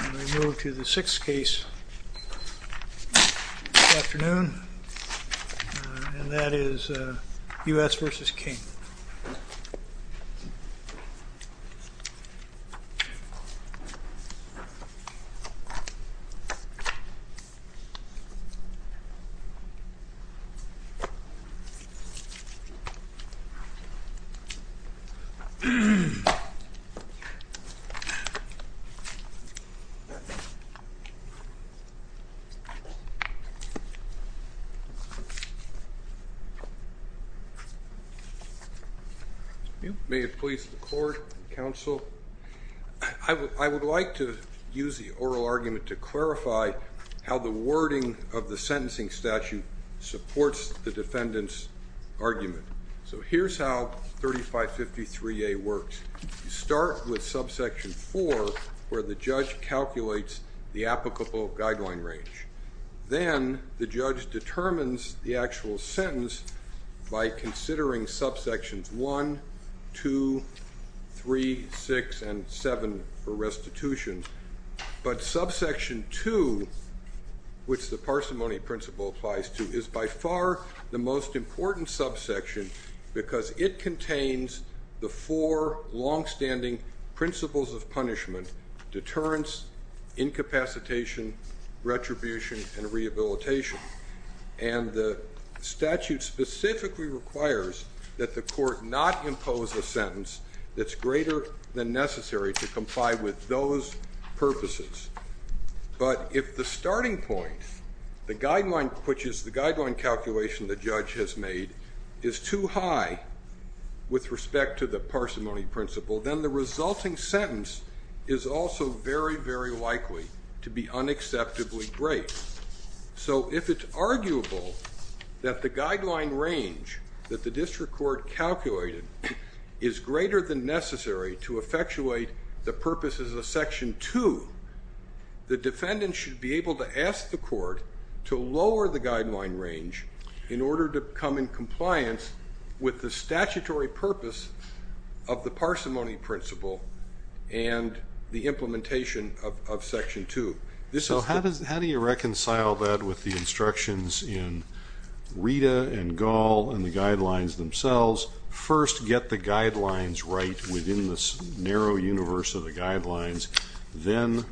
We move to the sixth case this afternoon, and that is U.S. v. King. May it please the Court and Counsel, I would like to use the oral argument to clarify how the wording of the sentencing statute supports the defendant's argument. So here's how 3553A works. You start with subsection 4, where the judge calculates the applicable guideline range. Then the judge determines the actual sentence by considering subsections 1, 2, 3, 6, and 7 for restitution. But subsection 2, which the parsimony principle applies to, is by far the most important subsection because it contains the four longstanding principles of punishment, which are deterrence, incapacitation, retribution, and rehabilitation. And the statute specifically requires that the court not impose a sentence that's greater than necessary to comply with those purposes. But if the starting point, which is the guideline calculation the judge has made, is too high with respect to the parsimony principle, then the resulting sentence is also very, very likely to be unacceptably great. So if it's arguable that the guideline range that the district court calculated is greater than necessary to effectuate the purposes of section 2, the defendant should be able to ask the court to lower the guideline range in order to come in compliance with the statutory purpose of the parsimony principle and the implementation of section 2. So how do you reconcile that with the instructions in Rita and Gall and the guidelines themselves? First, get the guidelines right within this narrow universe of the guidelines. Then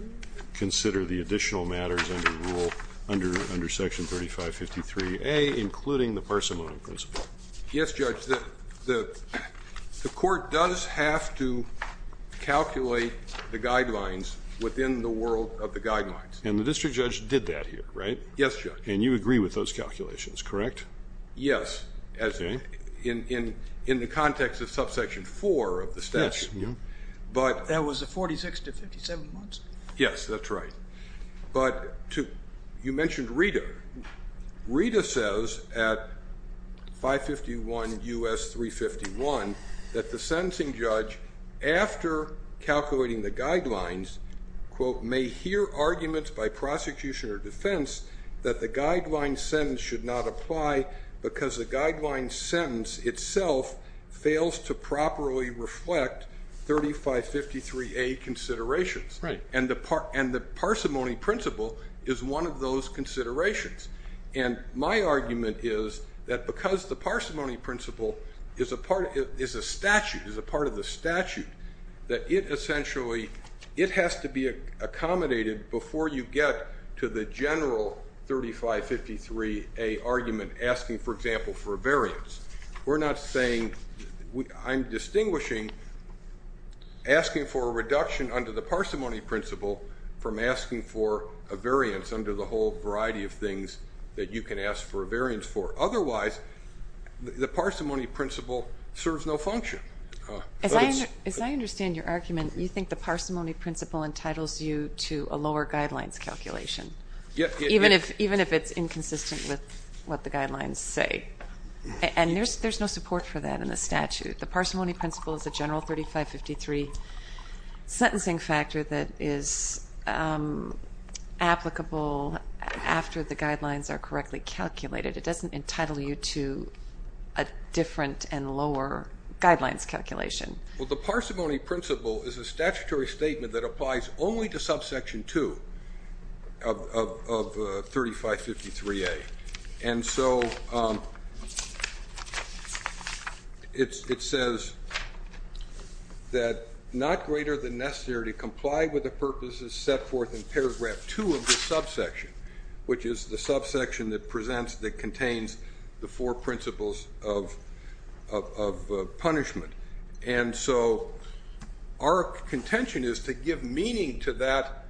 consider the additional matters under section 3553A, including the parsimony principle. Yes, Judge. The court does have to calculate the guidelines within the world of the guidelines. And the district judge did that here, right? Yes, Judge. And you agree with those calculations, correct? Yes, in the context of subsection 4 of the statute. Yes. That was the 46 to 57 months? Yes, that's right. But you mentioned Rita. Rita says at 551 U.S. 351 that the sentencing judge, after calculating the guidelines, quote, may hear arguments by prosecution or defense that the guideline sentence should not apply because the guideline sentence itself fails to properly reflect 3553A considerations. Right. And the parsimony principle is one of those considerations. And my argument is that because the parsimony principle is a statute, is a part of the statute, that it essentially has to be accommodated before you get to the general 3553A argument, asking, for example, for a variance. We're not saying I'm distinguishing asking for a reduction under the parsimony principle from asking for a variance under the whole variety of things that you can ask for a variance for. Otherwise, the parsimony principle serves no function. As I understand your argument, you think the parsimony principle entitles you to a lower guidelines calculation, even if it's inconsistent with what the guidelines say. And there's no support for that in the statute. The parsimony principle is a general 3553 sentencing factor that is applicable after the guidelines are correctly calculated. It doesn't entitle you to a different and lower guidelines calculation. Well, the parsimony principle is a statutory statement that applies only to subsection 2 of 3553A. And so it says that not greater than necessary to comply with the purposes set forth in paragraph 2 of the subsection, which is the subsection that contains the four principles of punishment. And so our contention is to give meaning to that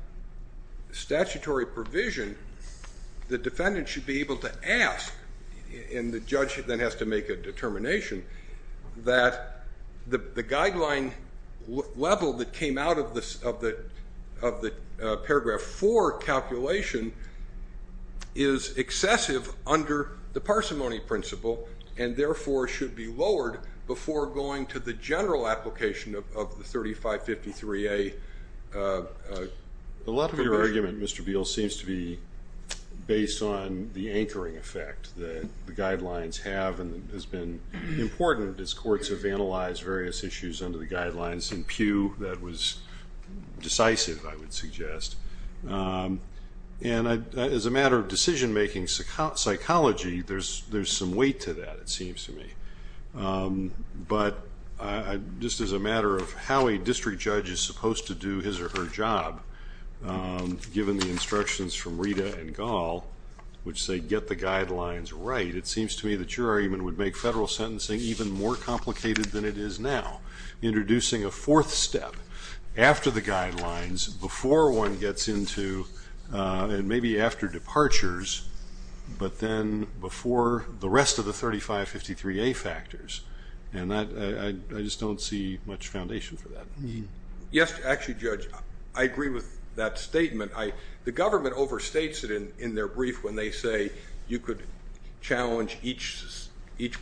statutory provision, the defendant should be able to ask, and the judge then has to make a determination, that the guideline level that came out of the paragraph 4 calculation is excessive under the parsimony principle and therefore should be lowered before going to the general application of the 3553A. A lot of your argument, Mr. Beal, seems to be based on the anchoring effect that the guidelines have and has been important as courts have analyzed various issues under the guidelines. In Pew, that was decisive, I would suggest. And as a matter of decision-making psychology, there's some weight to that, it seems to me. But just as a matter of how a district judge is supposed to do his or her job, given the instructions from Rita and Gall, which say get the guidelines right, it seems to me that your argument would make federal sentencing even more complicated than it is now. Introducing a fourth step after the guidelines, before one gets into and maybe after departures, but then before the rest of the 3553A factors. And I just don't see much foundation for that. Yes, actually, Judge, I agree with that statement. The government overstates it in their brief when they say you could challenge each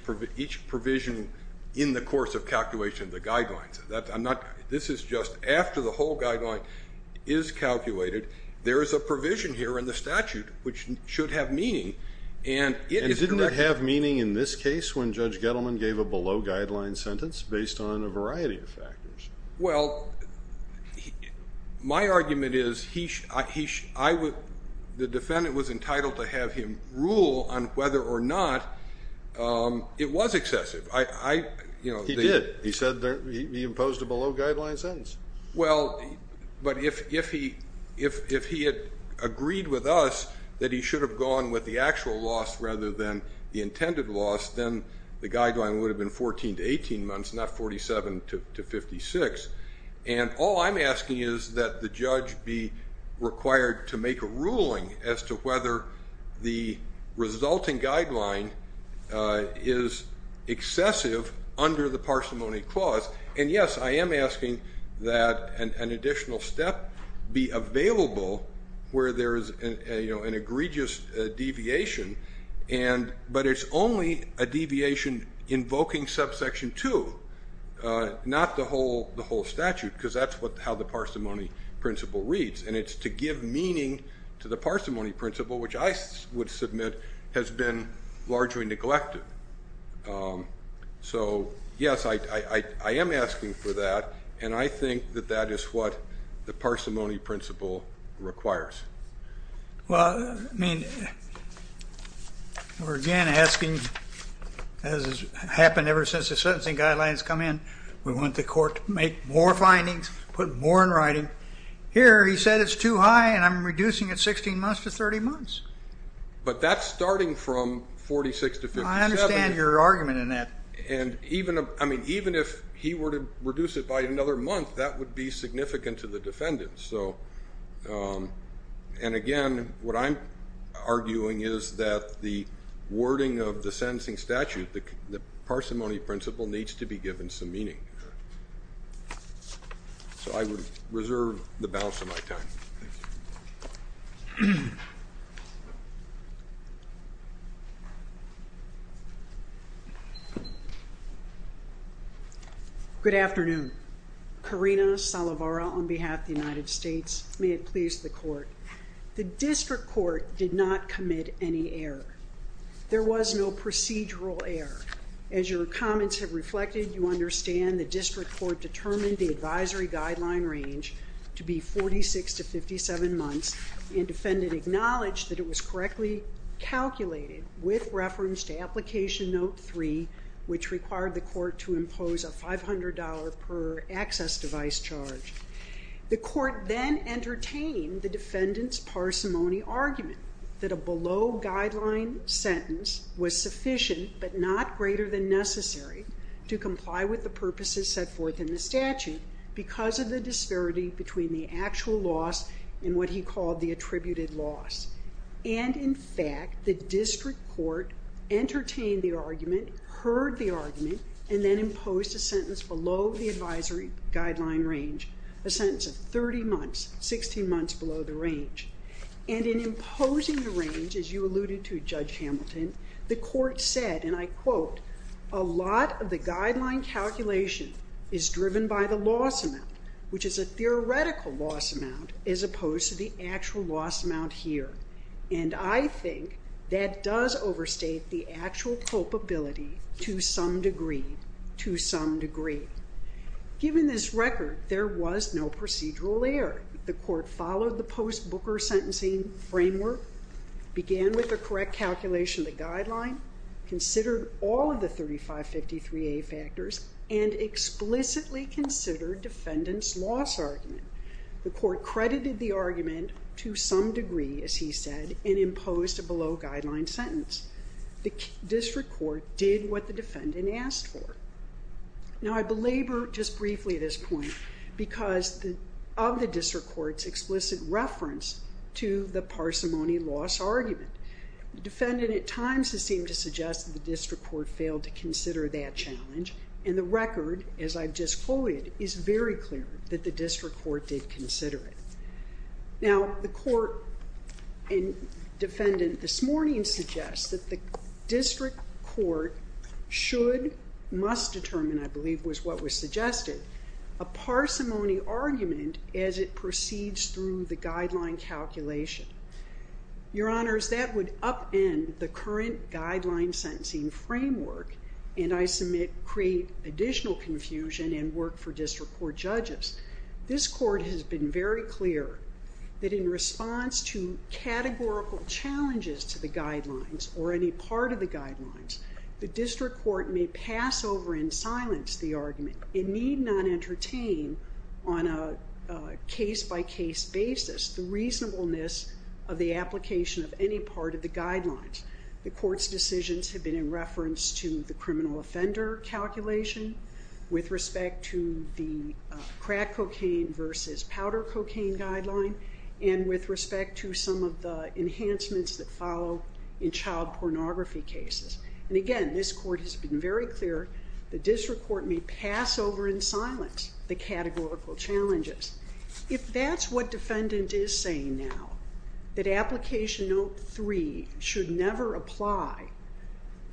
provision in the course of calculation of the guidelines. This is just after the whole guideline is calculated. There is a provision here in the statute which should have meaning. And didn't it have meaning in this case when Judge Gettleman gave a below-guideline sentence based on a variety of factors? Well, my argument is the defendant was entitled to have him rule on whether or not it was excessive. He did. He imposed a below-guideline sentence. Well, but if he had agreed with us that he should have gone with the actual loss rather than the intended loss, then the guideline would have been 14 to 18 months, not 47 to 56. And all I'm asking is that the judge be required to make a ruling as to whether the resulting guideline is excessive under the parsimony clause. And, yes, I am asking that an additional step be available where there is an egregious deviation, but it's only a deviation invoking subsection 2, not the whole statute, because that's how the parsimony principle reads. And it's to give meaning to the parsimony principle, which I would submit has been largely neglected. So, yes, I am asking for that, and I think that that is what the parsimony principle requires. Well, I mean, we're again asking, as has happened ever since the sentencing guidelines come in, we want the court to make more findings, put more in writing. Here he said it's too high, and I'm reducing it 16 months to 30 months. But that's starting from 46 to 57. I understand your argument in that. And even if he were to reduce it by another month, that would be significant to the defendant. And, again, what I'm arguing is that the wording of the sentencing statute, the parsimony principle, needs to be given some meaning. So I would reserve the balance of my time. Thank you. Good afternoon. Karina Salovara on behalf of the United States. May it please the court. The district court did not commit any error. There was no procedural error. As your comments have reflected, you understand the district court determined the advisory guideline range to be 46 to 57 months, and defendant acknowledged that it was correctly calculated with reference to application note 3, which required the court to impose a $500 per access device charge. The court then entertained the defendant's parsimony argument that a below-guideline sentence was sufficient, but not greater than necessary to comply with the purposes set forth in the statute because of the disparity between the actual loss and what he called the attributed loss. And, in fact, the district court entertained the argument, heard the argument, and then imposed a sentence below the advisory guideline range, a sentence of 30 months, 16 months below the range. And in imposing the range, as you alluded to, Judge Hamilton, the court said, and I quote, a lot of the guideline calculation is driven by the loss amount, which is a theoretical loss amount as opposed to the actual loss amount here. And I think that does overstate the actual culpability to some degree, to some degree. Given this record, there was no procedural error. The court followed the post-Booker sentencing framework, began with the correct calculation of the guideline, considered all of the 3553A factors, and explicitly considered defendant's loss argument. The court credited the argument to some degree, as he said, and imposed a below-guideline sentence. The district court did what the defendant asked for. Now, I belabor just briefly this point because of the district court's explicit reference to the parsimony loss argument. The defendant at times has seemed to suggest that the district court failed to consider that challenge, and the record, as I've just quoted, is very clear that the district court did consider it. Now, the court and defendant this morning suggest that the district court should, must determine, I believe was what was suggested, a parsimony argument as it proceeds through the guideline calculation. Your Honors, that would upend the current guideline sentencing framework, and I submit create additional confusion and work for district court judges. This court has been very clear that in response to categorical challenges to the guidelines, or any part of the guidelines, the district court may pass over and silence the argument, and need not entertain on a case-by-case basis the reasonableness of the application of any part of the guidelines. The court's decisions have been in reference to the criminal offender calculation, with respect to the crack cocaine versus powder cocaine guideline, and with respect to some of the enhancements that follow in child pornography cases. And again, this court has been very clear, the district court may pass over and silence the categorical challenges. If that's what defendant is saying now, that application note 3 should never apply,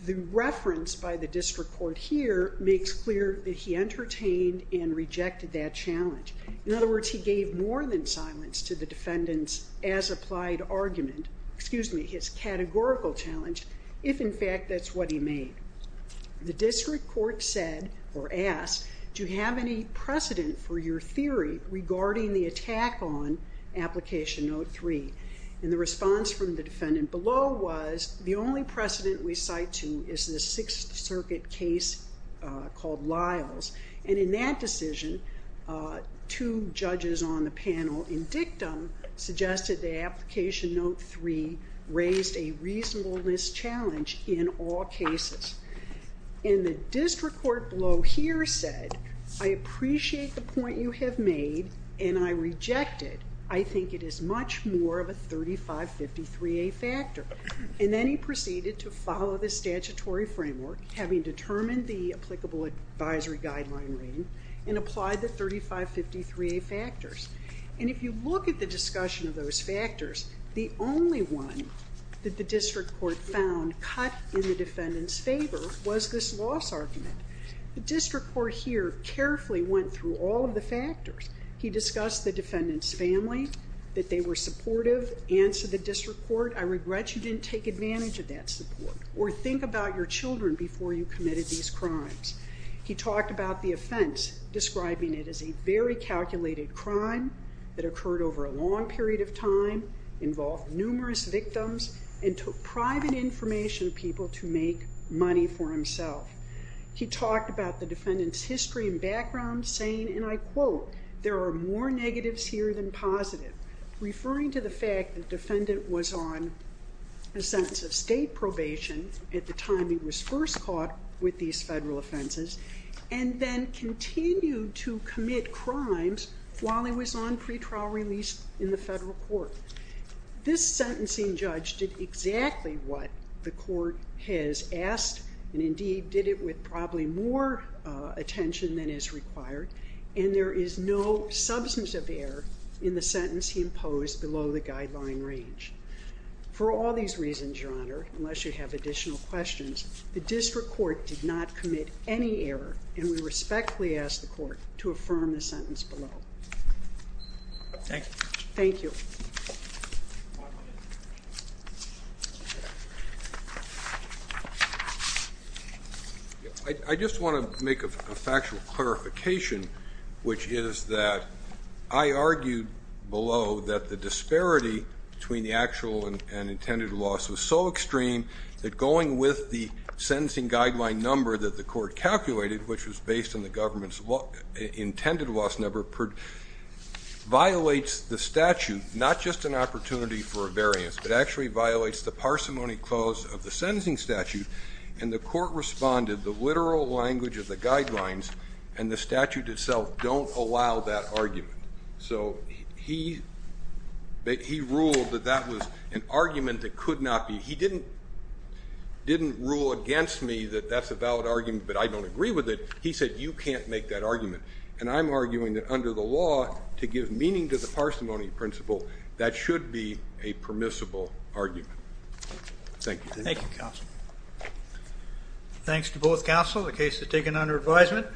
the reference by the district court here makes clear that he entertained and rejected that challenge. In other words, he gave more than silence to the defendant's as-applied argument, excuse me, his categorical challenge, if in fact that's what he made. The district court said, or asked, do you have any precedent for your theory regarding the attack on application note 3? And the response from the defendant below was, the only precedent we cite to is the Sixth Circuit case called Lyles. And in that decision, two judges on the panel, in dictum, suggested that application note 3 raised a reasonableness challenge in all cases. And the district court below here said, I appreciate the point you have made, and I reject it. I think it is much more of a 3553A factor. And then he proceeded to follow the statutory framework, having determined the applicable advisory guideline reading, and applied the 3553A factors. And if you look at the discussion of those factors, the only one that the district court found cut in the defendant's favor was this loss argument. The district court here carefully went through all of the factors. He discussed the defendant's family, that they were supportive, answered the district court, I regret you didn't take advantage of that support, or think about your children before you committed these crimes. He talked about the offense, describing it as a very calculated crime that occurred over a long period of time, involved numerous victims, and took private information of people to make money for himself. He talked about the defendant's history and background, saying, and I quote, there are more negatives here than positive, referring to the fact that the defendant was on a sentence of state probation at the time he was first caught with these federal offenses, and then continued to commit crimes while he was on pretrial release in the federal court. This sentencing judge did exactly what the court has asked, and indeed did it with probably more attention than is required, and there is no substance of error in the sentence he imposed below the guideline range. For all these reasons, Your Honor, unless you have additional questions, the district court did not commit any error, and we respectfully ask the court to affirm the sentence below. Thank you. Thank you. I just want to make a factual clarification, which is that I argued below that the disparity between the actual and intended loss was so extreme that going with the sentencing guideline number that the court calculated, which was based on the government's intended loss number, violates the statute, not just an opportunity for a variance, but actually violates the parsimony clause of the sentencing statute, and the court responded the literal language of the guidelines and the statute itself don't allow that argument. So he ruled that that was an argument that could not be. He didn't rule against me that that's a valid argument, but I don't agree with it. He said you can't make that argument, and I'm arguing that under the law to give meaning to the parsimony principle, that should be a permissible argument. Thank you. Thank you, counsel. Thanks to both counsel. The case is taken under advisement.